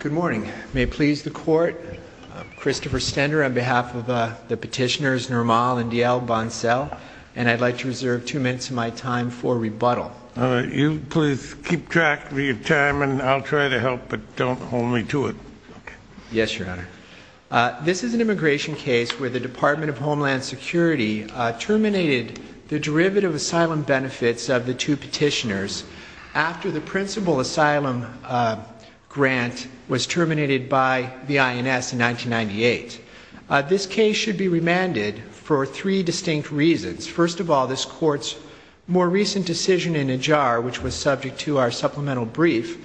Good morning. May it please the Court, I'm Christopher Stender on behalf of the petitioners Nirmal and D.L. Bansel, and I'd like to reserve two minutes of my time for rebuttal. You please keep track of your time and I'll try to help, but don't hold me to it. Yes, Your Honor. This is an immigration case where the Department of Homeland Security terminated the derivative asylum benefits of the two petitioners after the principal asylum grant was terminated by the INS in 1998. This case should be remanded for three distinct reasons. First of all, this Court's more recent decision in Najjar, which was subject to our supplemental brief.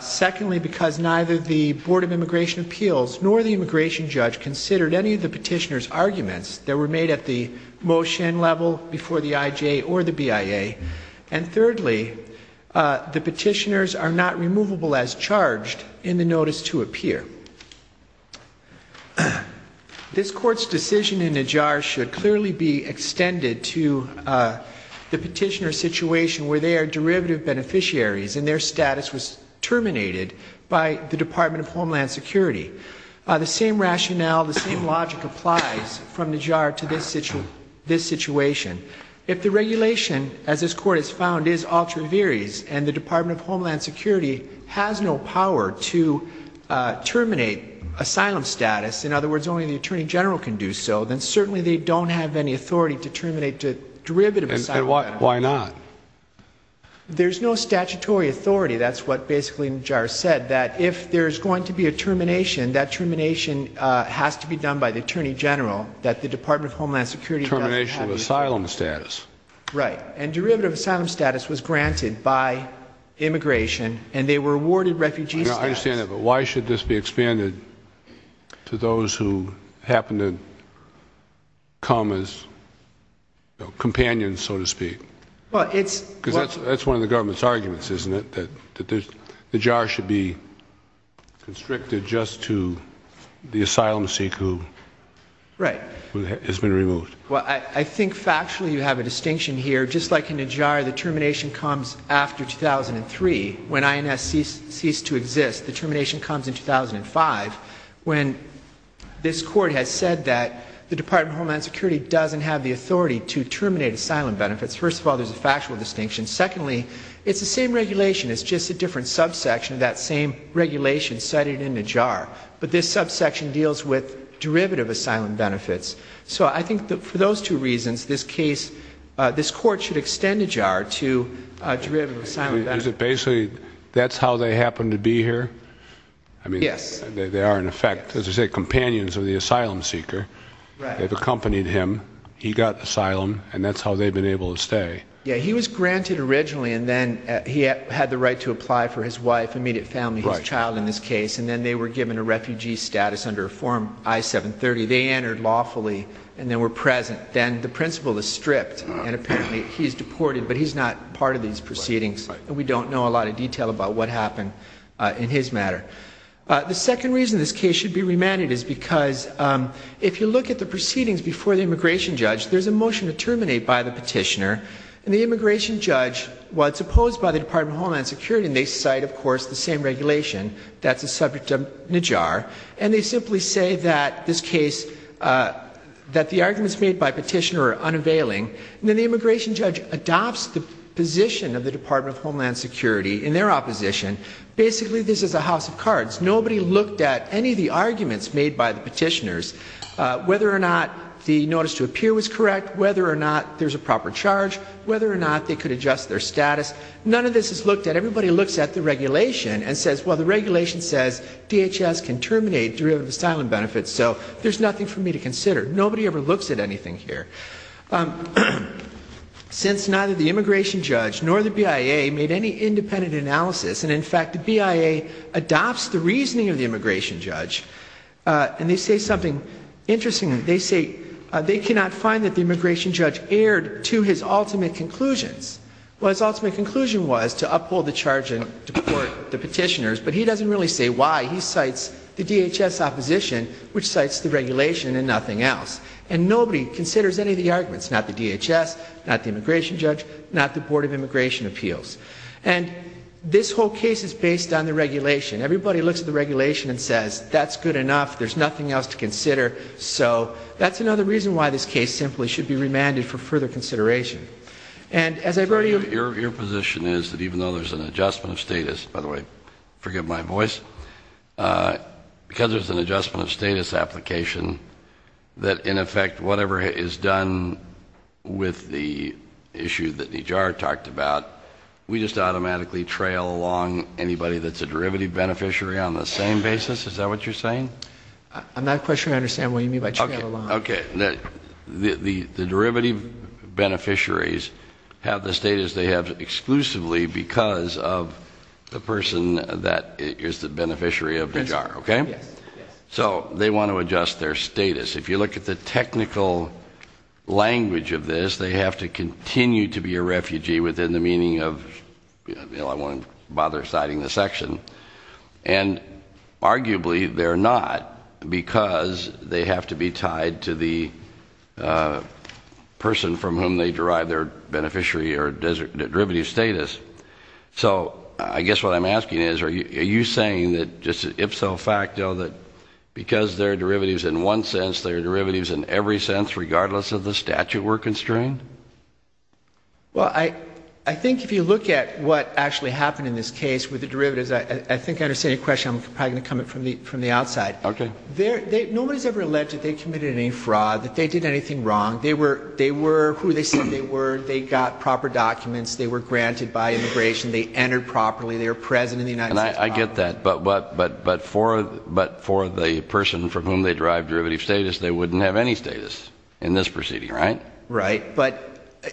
Secondly, because neither the Board of Immigration Appeals nor the immigration judge considered any of the petitioners' arguments that were made at the motion level before the IJ or the BIA. And thirdly, the petitioners are not removable as charged in the notice to appear. This Court's decision in Najjar should clearly be extended to the petitioner's situation where they are derivative beneficiaries and their status was terminated by the Department of Homeland Security. The same rationale, the same logic applies from Najjar to this situation. If the regulation, as this Court has found, is ultra viris and the Department of Homeland Security has no power to terminate asylum status, in other words, only the Attorney General can do so, then certainly they don't have any authority to terminate derivative asylum benefits. And why not? There's no statutory authority. That's what basically Najjar said, that if there's going to be a termination, that termination has to be done by the Attorney General. Termination of asylum status. Right. And derivative asylum status was granted by immigration and they were awarded refugee status. I understand that, but why should this be expanded to those who happen to come as companions, so to speak? Well, it's... Because that's one of the government's arguments, isn't it? That Najjar should be constricted just to the asylum seeker who... Right. ...has been removed. Well, I think factually you have a distinction here. Just like in Najjar, the termination comes after 2003 when INS ceased to exist. The termination comes in 2005 when this Court has said that the Department of Homeland Security doesn't have the authority to terminate asylum benefits. First of all, there's a factual distinction. Secondly, it's the same regulation, it's just a different subsection of that same regulation cited in Najjar. But this subsection deals with derivative asylum benefits. So I think that for those two reasons, this case, this Court should extend Najjar to derivative asylum benefits. Is it basically, that's how they happen to be here? Yes. I mean, they are in effect, as you say, companions of the asylum seeker. Right. They've accompanied him, he got asylum, and that's how they've been able to stay. Yeah, he was granted originally, and then he had the right to apply for his wife, immediate family, his child in this case, and then they were given a refugee status under Form I-730. They entered lawfully and then were present. Then the principal is stripped, and apparently he's deported, but he's not part of these proceedings. We don't know a lot of detail about what happened in his matter. The second reason this case should be remanded is because if you look at the proceedings before the immigration judge, there's a motion to terminate by the petitioner, and the immigration judge, while it's opposed by the Department of Homeland Security, and they cite, of course, the same regulation, that's the subject of Najjar, and they simply say that this case, that the arguments made by petitioner are unavailing, and then the immigration judge adopts the position of the Department of Homeland Security in their opposition. Basically, this is a house of cards. Nobody looked at any of the arguments made by the petitioners, whether or not the notice to appear was correct, whether or not there's a proper charge, whether or not they could adjust their status. None of this is looked at. Everybody looks at the regulation and says, well, the regulation says DHS can terminate derivative asylum benefits, so there's nothing for me to consider. Nobody ever looks at anything here. Since neither the immigration judge nor the BIA made any independent analysis, and, in fact, the BIA adopts the reasoning of the immigration judge, and they say something interesting. They say they cannot find that the immigration judge erred to his ultimate conclusions. Well, his ultimate conclusion was to uphold the charge and deport the petitioners, but he doesn't really say why. He cites the DHS opposition, which cites the regulation and nothing else, and nobody considers any of the arguments, not the DHS, not the immigration judge, not the Board of Immigration Appeals. And this whole case is based on the regulation. Everybody looks at the regulation and says, that's good enough. There's nothing else to consider. So that's another reason why this case simply should be remanded for further consideration. And as I've already ---- Your position is that even though there's an adjustment of status, by the way, forgive my voice, because there's an adjustment of status application, that, in effect, whatever is done with the issue that Nijar talked about, we just automatically trail along anybody that's a derivative beneficiary on the same basis? Is that what you're saying? I'm not quite sure I understand what you mean by trail along. Okay. The derivative beneficiaries have the status they have exclusively because of the person that is the beneficiary of Nijar, okay? Yes. So they want to adjust their status. If you look at the technical language of this, they have to continue to be a refugee within the meaning of, you know, I won't bother citing the section. And arguably they're not because they have to be tied to the person from whom they derive their beneficiary or derivative status. So I guess what I'm asking is, are you saying that just ipso facto, that because there are derivatives in one sense, there are derivatives in every sense, regardless of the statute we're constrained? Well, I think if you look at what actually happened in this case with the derivatives, I think I understand your question. I'm probably going to come at it from the outside. Okay. Nobody's ever alleged that they committed any fraud, that they did anything wrong. They were who they said they were. They got proper documents. They were granted by immigration. They entered properly. They were present in the United States Congress. And I get that. But for the person from whom they derive derivative status, they wouldn't have any status in this proceeding, right? Right. But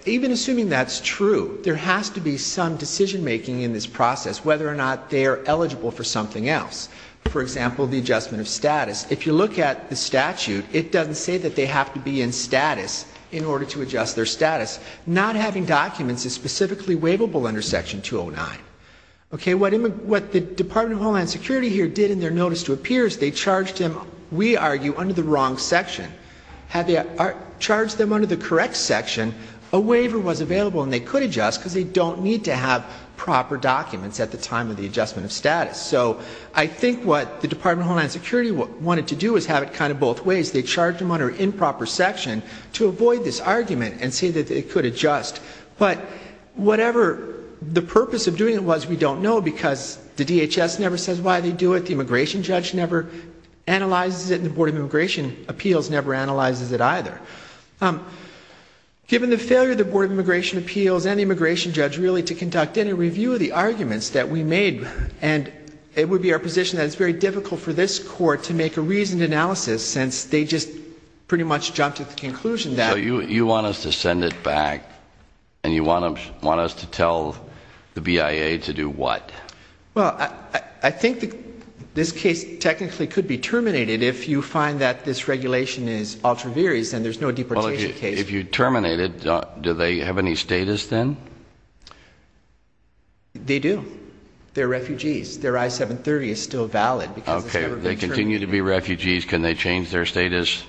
even assuming that's true, there has to be some decision-making in this process, whether or not they are eligible for something else. For example, the adjustment of status. If you look at the statute, it doesn't say that they have to be in status in order to adjust their status. Not having documents is specifically waivable under Section 209. Okay. What the Department of Homeland Security here did in their notice to appear is they charged them, we argue, under the wrong section. Had they charged them under the correct section, a waiver was available and they could adjust because they don't need to have proper documents at the time of the adjustment of status. So I think what the Department of Homeland Security wanted to do is have it kind of both ways. They charged them under improper section to avoid this argument and say that they could adjust. But whatever the purpose of doing it was, we don't know because the DHS never says why they do it, the immigration judge never analyzes it, and the Board of Immigration Appeals never analyzes it either. Given the failure of the Board of Immigration Appeals and the immigration judge really to conduct any review of the arguments that we made, and it would be our position that it's very difficult for this Court to make a reasoned analysis since they just pretty much jumped to the conclusion that So you want us to send it back and you want us to tell the BIA to do what? Well, I think this case technically could be terminated if you find that this regulation is ultra-various and there's no deportation case. Well, if you terminate it, do they have any status then? They do. They're refugees. Their I-730 is still valid because it's never been terminated. Okay. They continue to be refugees. Can they change their status?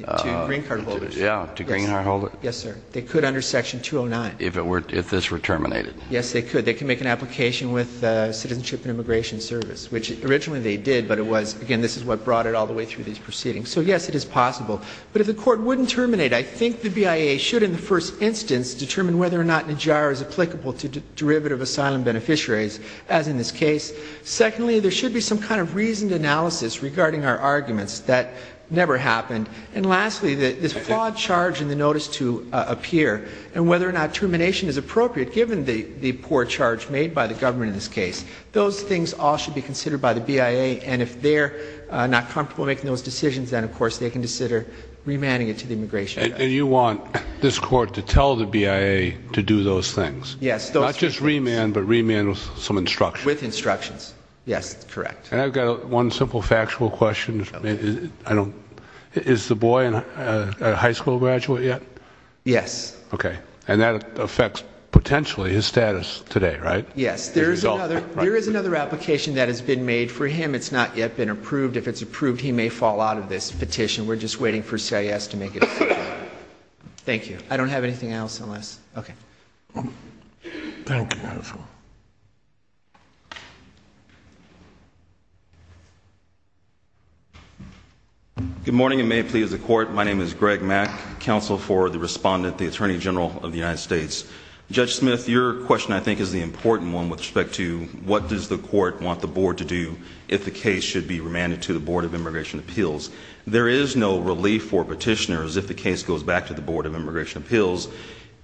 To green card holders. Yeah. To green card holders. Yes, sir. They could under Section 209. If this were terminated. Yes, they could. They could make an application with Citizenship and Immigration Service, which originally they did, but it was, again, this is what brought it all the way through these proceedings. So, yes, it is possible. But if the Court wouldn't terminate, I think the BIA should in the first instance determine whether or not NIJARA is applicable to derivative asylum beneficiaries, as in this case. Secondly, there should be some kind of reasoned analysis regarding our arguments. That never happened. And lastly, this flawed charge in the notice to appear and whether or not termination is appropriate, given the poor charge made by the government in this case, those things all should be considered by the BIA, and if they're not comfortable making those decisions, then, of course, they can consider remanding it to the Immigration Office. And you want this Court to tell the BIA to do those things? Yes, those things. Not just remand, but remand with some instruction. With instructions. Yes, that's correct. And I've got one simple factual question. Is the boy a high school graduate yet? Yes. Okay. And that affects, potentially, his status today, right? Yes. There is another application that has been made for him. It's not yet been approved. If it's approved, he may fall out of this petition. We're just waiting for CIS to make it. Thank you, Your Honor. Good morning, and may it please the Court. My name is Greg Mack, counsel for the respondent, the Attorney General of the United States. Judge Smith, your question, I think, is the important one with respect to what does the Court want the Board to do if the case should be remanded to the Board of Immigration Appeals? There is no relief for petitioners if the case goes back to the Board of Immigration Appeals.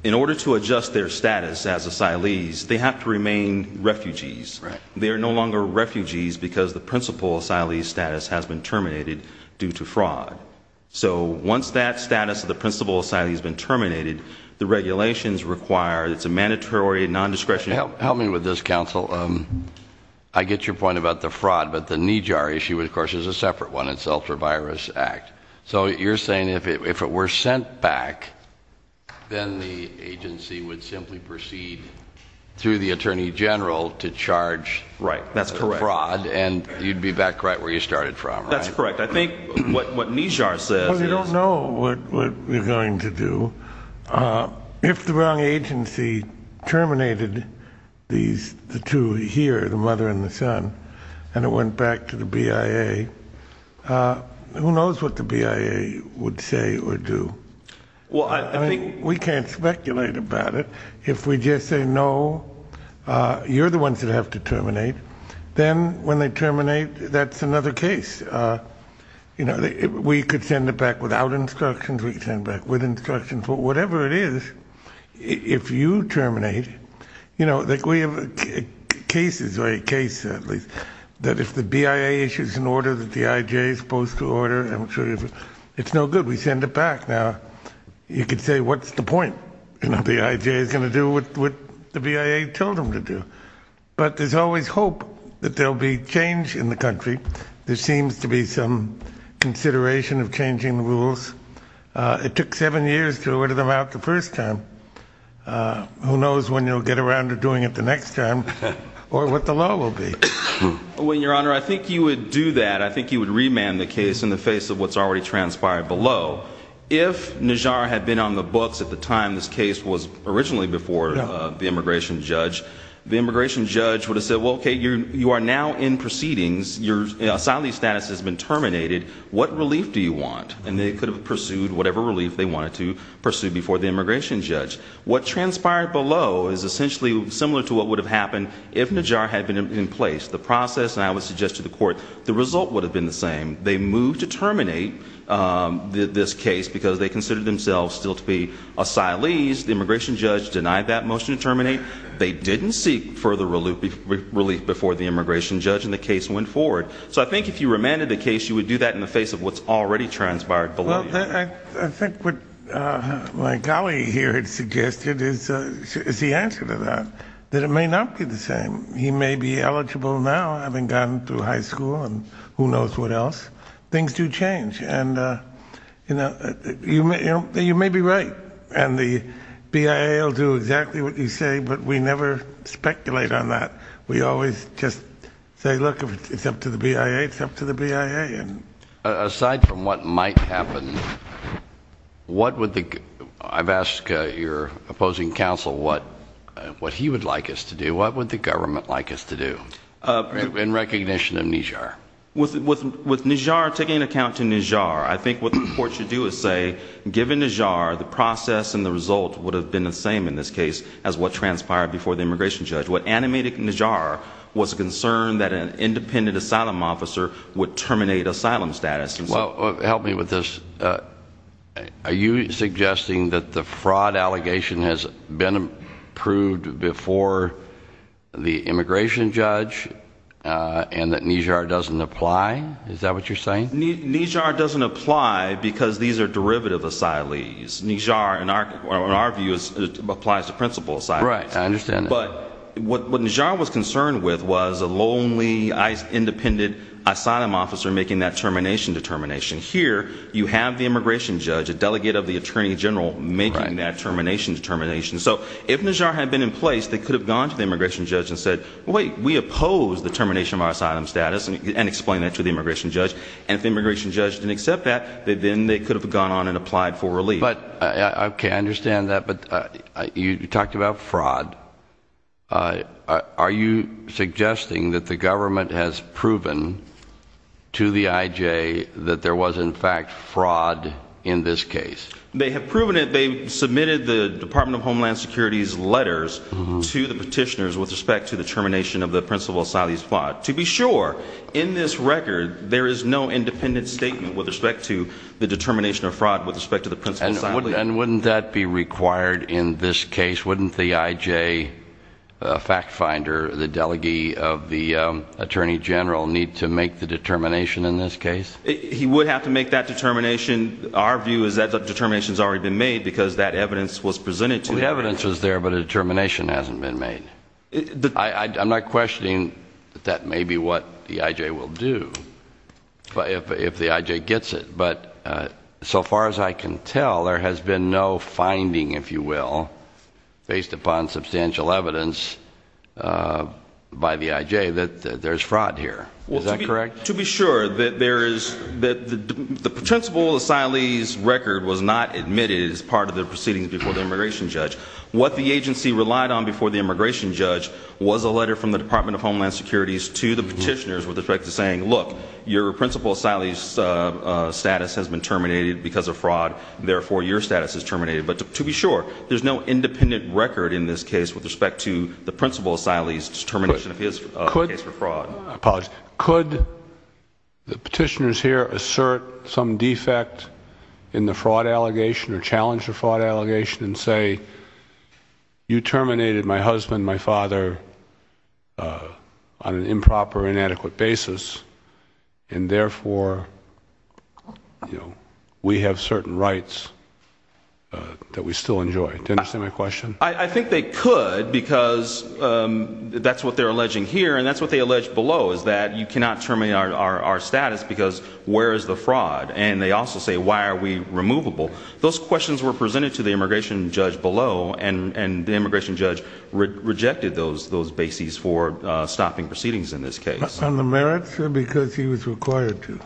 In order to adjust their status as asylees, they have to remain refugees. They are no longer refugees because the principal asylee status has been terminated due to fraud. So, once that status of the principal asylee has been terminated, the regulations require, it's a mandatory, non-discretionary Help me with this, counsel. I get your point about the fraud, but the NEJAR issue, of course, is a separate one. It's the Ultra-Virus Act. So, you're saying if it were sent back, then the agency would simply proceed through the Attorney General to charge fraud? Right. That's correct. And you'd be back right where you started from, right? That's correct. I think what NEJAR says is Well, we don't know what we're going to do. If the wrong agency terminated the two here, the mother and the son, and it went back to the BIA, who knows what the BIA would say or do? Well, I think We can't speculate about it. If we just say, no, you're the ones that have to terminate, then when they terminate, that's another case. We could send it back without instructions. We could send it back with instructions. But whatever it is, if you terminate, we have cases, or a case, at least, that if the BIA issues an order that the IJ is supposed to order, it's no good. We send it back. Now, you could say, what's the point? The IJ is going to do what the BIA told them to do. But there's always hope that there'll be change in the country. There seems to be some consideration of changing the rules. It took seven years to order them out the first time. Who knows when you'll get around to doing it the next time, or what the law will be. Well, Your Honor, I think you would do that. I think you would remand the case in the face of what's already transpired below. If Najjar had been on the books at the time this case was originally before the immigration judge, the immigration judge would have said, well, okay, you are now in proceedings. Your asylee status has been terminated. What relief do you want? And they could have pursued whatever relief they wanted to pursue before the immigration judge. What transpired below is essentially similar to what would have happened if Najjar had been in place. The process, and I would suggest to the court, the result would have been the same. They moved to terminate this case because they considered themselves still to be asylees. The immigration judge denied that motion to terminate. They didn't seek further relief before the immigration judge, and the case went forward. So I think if you remanded the case, you would do that in the face of what's already transpired below. I think what my colleague here had suggested is the answer to that, that it may not be the same. He may be eligible now, having gone through high school and who knows what else. Things do change, and you may be right, and the BIA will do exactly what you say, but we never speculate on that. We always just say, look, if it's up to the BIA, it's up to the BIA. Aside from what might happen, I've asked your opposing counsel what he would like us to do. What would the government like us to do in recognition of Najjar? With Najjar, taking into account Najjar, I think what the court should do is say, given Najjar, the process and the result would have been the same in this case as what transpired before the immigration judge. What animated Najjar was the concern that an independent asylum officer would terminate asylum status. Well, help me with this. Are you suggesting that the fraud allegation has been approved before the immigration judge and that Najjar doesn't apply? Is that what you're saying? Najjar doesn't apply because these are derivative asylees. Najjar, in our view, applies to principal asylees. Right, I understand that. But what Najjar was concerned with was a lonely, independent asylum officer making that termination determination. Here, you have the immigration judge, a delegate of the attorney general, making that termination determination. So, if Najjar had been in place, they could have gone to the immigration judge and said, wait, we oppose the termination of our asylum status, and explained that to the immigration judge. And if the immigration judge didn't accept that, then they could have gone on and applied for relief. Okay, I understand that, but you talked about fraud. Are you suggesting that the government has proven to the IJ that there was, in fact, fraud in this case? They have proven it. They've submitted the Department of Homeland Security's letters to the petitioners with respect to the termination of the principal asylee's fraud. To be sure, in this record, there is no independent statement with respect to the determination of fraud with respect to the principal asylee. And wouldn't that be required in this case? Wouldn't the IJ fact finder, the delegate of the attorney general, need to make the determination in this case? He would have to make that determination. Our view is that the determination's already been made because that evidence was presented to him. The evidence was there, but a determination hasn't been made. I'm not questioning that that may be what the IJ will do if the IJ gets it. But so far as I can tell, there has been no finding, if you will, based upon substantial evidence by the IJ that there's fraud here. Is that correct? To be sure, the principal asylee's record was not admitted as part of the proceedings before the immigration judge. What the agency relied on before the immigration judge was a letter from the Department of Homeland Security to the petitioners with respect to saying, look, your principal asylee's status has been terminated because of fraud, therefore your status is terminated. But to be sure, there's no independent record in this case with respect to the principal asylee's determination of his case for fraud. Could the petitioners here assert some defect in the fraud allegation or challenge the fraud allegation and say, you terminated my husband, my father, on an improper, inadequate basis, and therefore we have certain rights that we still enjoy? Do you understand my question? I think they could because that's what they're alleging here, and that's what they allege below, is that you cannot terminate our status because where is the fraud? And they also say, why are we removable? Those questions were presented to the immigration judge below, and the immigration judge rejected those bases for stopping proceedings in this case. On the merits or because he was required to?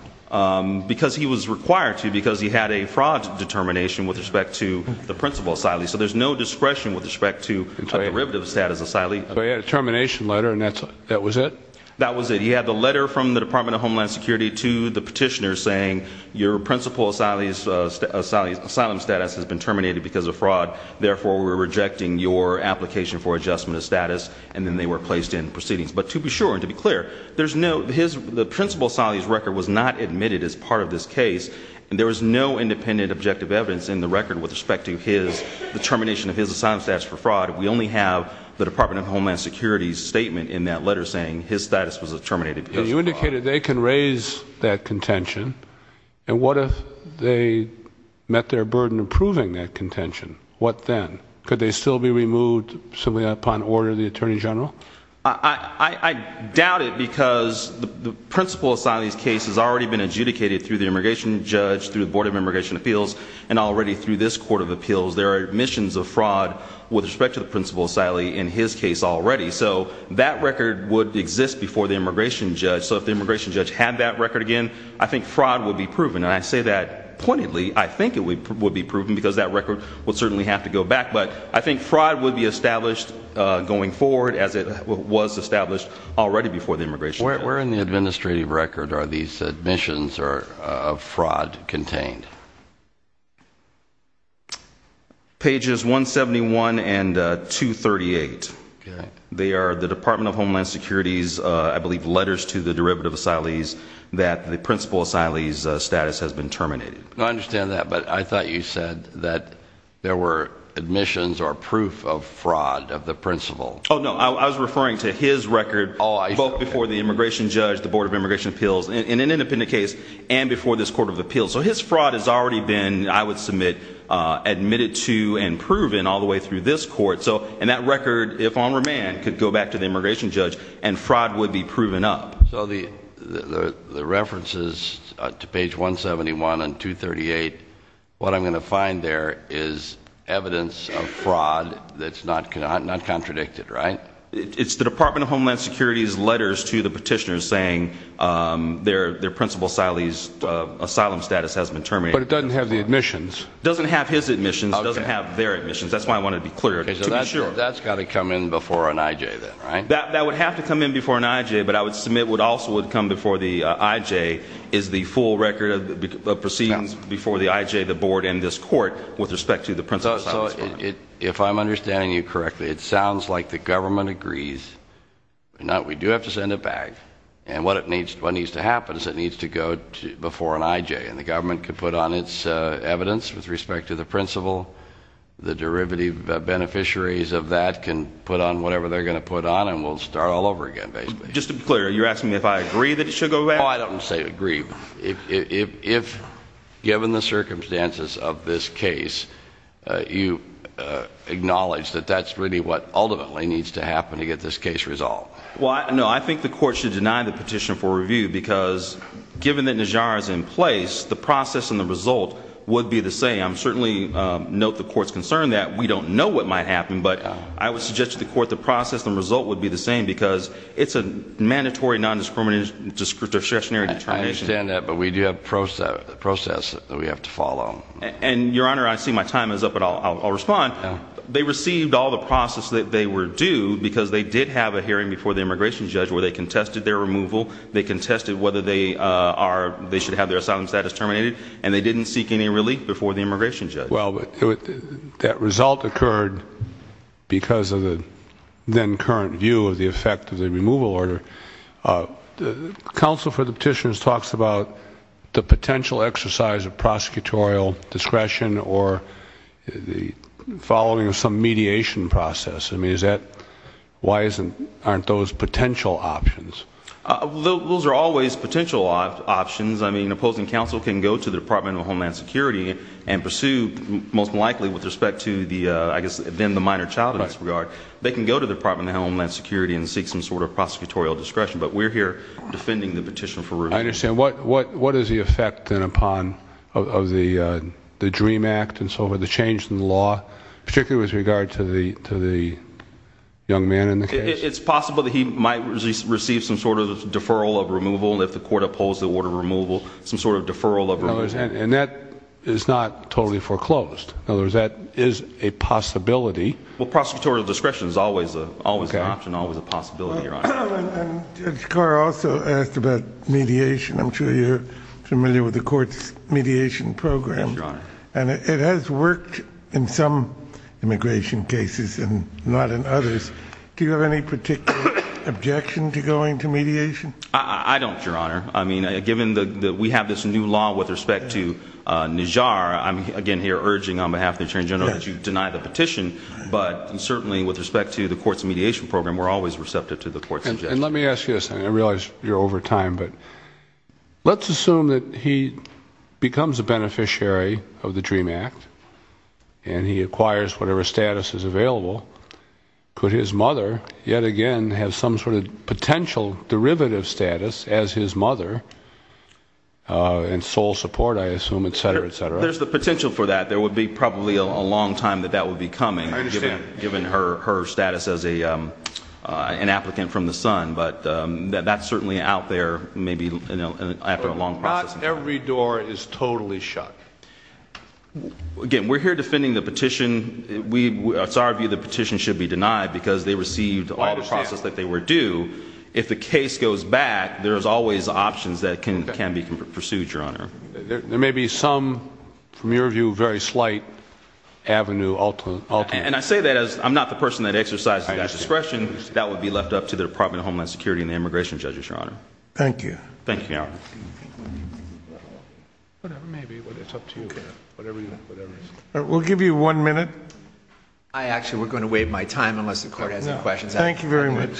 Because he was required to, because he had a fraud determination with respect to the principal asylee. So there's no discretion with respect to a derivative status asylee. So he had a termination letter, and that was it? That was it. He had the letter from the Department of Homeland Security to the petitioners saying, your principal asylee's asylum status has been terminated because of fraud, therefore we're rejecting your application for adjustment of status, and then they were placed in proceedings. But to be sure, and to be clear, the principal asylee's record was not admitted as part of this case, and there was no independent objective evidence in the record with respect to his determination of his asylum status for fraud. We only have the Department of Homeland Security's statement in that letter saying his status was terminated because of fraud. And you indicated they can raise that contention, and what if they met their burden of proving that contention? What then? Could they still be removed simply upon order of the Attorney General? I doubt it because the principal asylee's case has already been adjudicated through the immigration judge, through the Board of Immigration Appeals, and already through this Court of Appeals. There are admissions of fraud with respect to the principal asylee in his case already. So that record would exist before the immigration judge. So if the immigration judge had that record again, I think fraud would be proven. And I say that pointedly. I think it would be proven because that record would certainly have to go back. But I think fraud would be established going forward as it was established already before the immigration judge. Where in the administrative record are these admissions of fraud contained? Pages 171 and 238. They are the Department of Homeland Security's, I believe, letters to the derivative asylees that the principal asylee's status has been terminated. I understand that, but I thought you said that there were admissions or proof of fraud of the principal. Oh, no. I was referring to his record both before the immigration judge, the Board of Immigration Appeals, in an independent case, and before this Court of Appeals. So his fraud has already been, I would submit, admitted to and proven all the way through this court. And that record, if on remand, could go back to the immigration judge and fraud would be proven up. So the references to page 171 and 238, what I'm going to find there is evidence of fraud that's not contradicted, right? It's the Department of Homeland Security's letters to the petitioners saying their principal asylee's asylum status has been terminated. But it doesn't have the admissions. It doesn't have his admissions. It doesn't have their admissions. That's why I want to be clear. That's got to come in before an IJ then, right? That would have to come in before an IJ, but I would submit what also would come before the IJ is the full record of proceedings before the IJ, the board, and this court with respect to the principal's asylum status. So if I'm understanding you correctly, it sounds like the government agrees. We do have to send it back. And what needs to happen is it needs to go before an IJ, and the government can put on its evidence with respect to the principal. The derivative beneficiaries of that can put on whatever they're going to put on, and we'll start all over again, basically. Just to be clear, you're asking me if I agree that it should go back? Oh, I don't say agree. If, given the circumstances of this case, you acknowledge that that's really what ultimately needs to happen to get this case resolved. Well, no, I think the court should deny the petition for review because, given that Najjar is in place, the process and the result would be the same. I certainly note the court's concern that we don't know what might happen, but I would suggest to the court the process and result would be the same because it's a mandatory nondiscriminationary determination. I understand that, but we do have a process that we have to follow. And, Your Honor, I see my time is up, but I'll respond. They received all the process that they were due because they did have a hearing before the immigration judge where they contested their removal. They contested whether they should have their asylum status terminated, and they didn't seek any relief before the immigration judge. Well, that result occurred because of the then-current view of the effect of the removal order. The counsel for the petitions talks about the potential exercise of prosecutorial discretion or the following of some mediation process. Why aren't those potential options? Those are always potential options. Opposing counsel can go to the Department of Homeland Security and pursue, most likely with respect to the minor child in this regard, they can go to the Department of Homeland Security and seek some sort of prosecutorial discretion. But we're here defending the petition for review. I understand. What is the effect, then, upon the DREAM Act and so forth, the change in the law, particularly with regard to the young man in the case? It's possible that he might receive some sort of deferral of removal if the court upholds the order of removal, some sort of deferral of removal. And that is not totally foreclosed. In other words, that is a possibility. Well, prosecutorial discretion is always an option, always a possibility, Your Honor. Judge Carr also asked about mediation. I'm sure you're familiar with the court's mediation program. Yes, Your Honor. And it has worked in some immigration cases and not in others. Do you have any particular objection to going to mediation? I don't, Your Honor. I mean, given that we have this new law with respect to Najjar, I'm, again, here urging on behalf of the Attorney General that you deny the petition. But certainly with respect to the court's mediation program, we're always receptive to the court's suggestion. And let me ask you this, and I realize you're over time, but let's assume that he becomes a beneficiary of the DREAM Act and he acquires whatever status is available. Could his mother yet again have some sort of potential derivative status as his mother and sole support, I assume, et cetera, et cetera? There's the potential for that. There would be probably a long time that that would be coming, given her status as an applicant from the sun. But that's certainly out there maybe after a long process. But not every door is totally shut. Again, we're here defending the petition. It's our view the petition should be denied because they received all the process that they were due. If the case goes back, there's always options that can be pursued, Your Honor. There may be some, from your view, very slight avenue. And I say that as I'm not the person that exercises that discretion. That would be left up to the Department of Homeland Security and the immigration judges, Your Honor. Thank you. Thank you, Your Honor. We'll give you one minute. Actually, we're going to waive my time unless the court has any questions. Thank you very much. Thank you, Mr. Carpenter.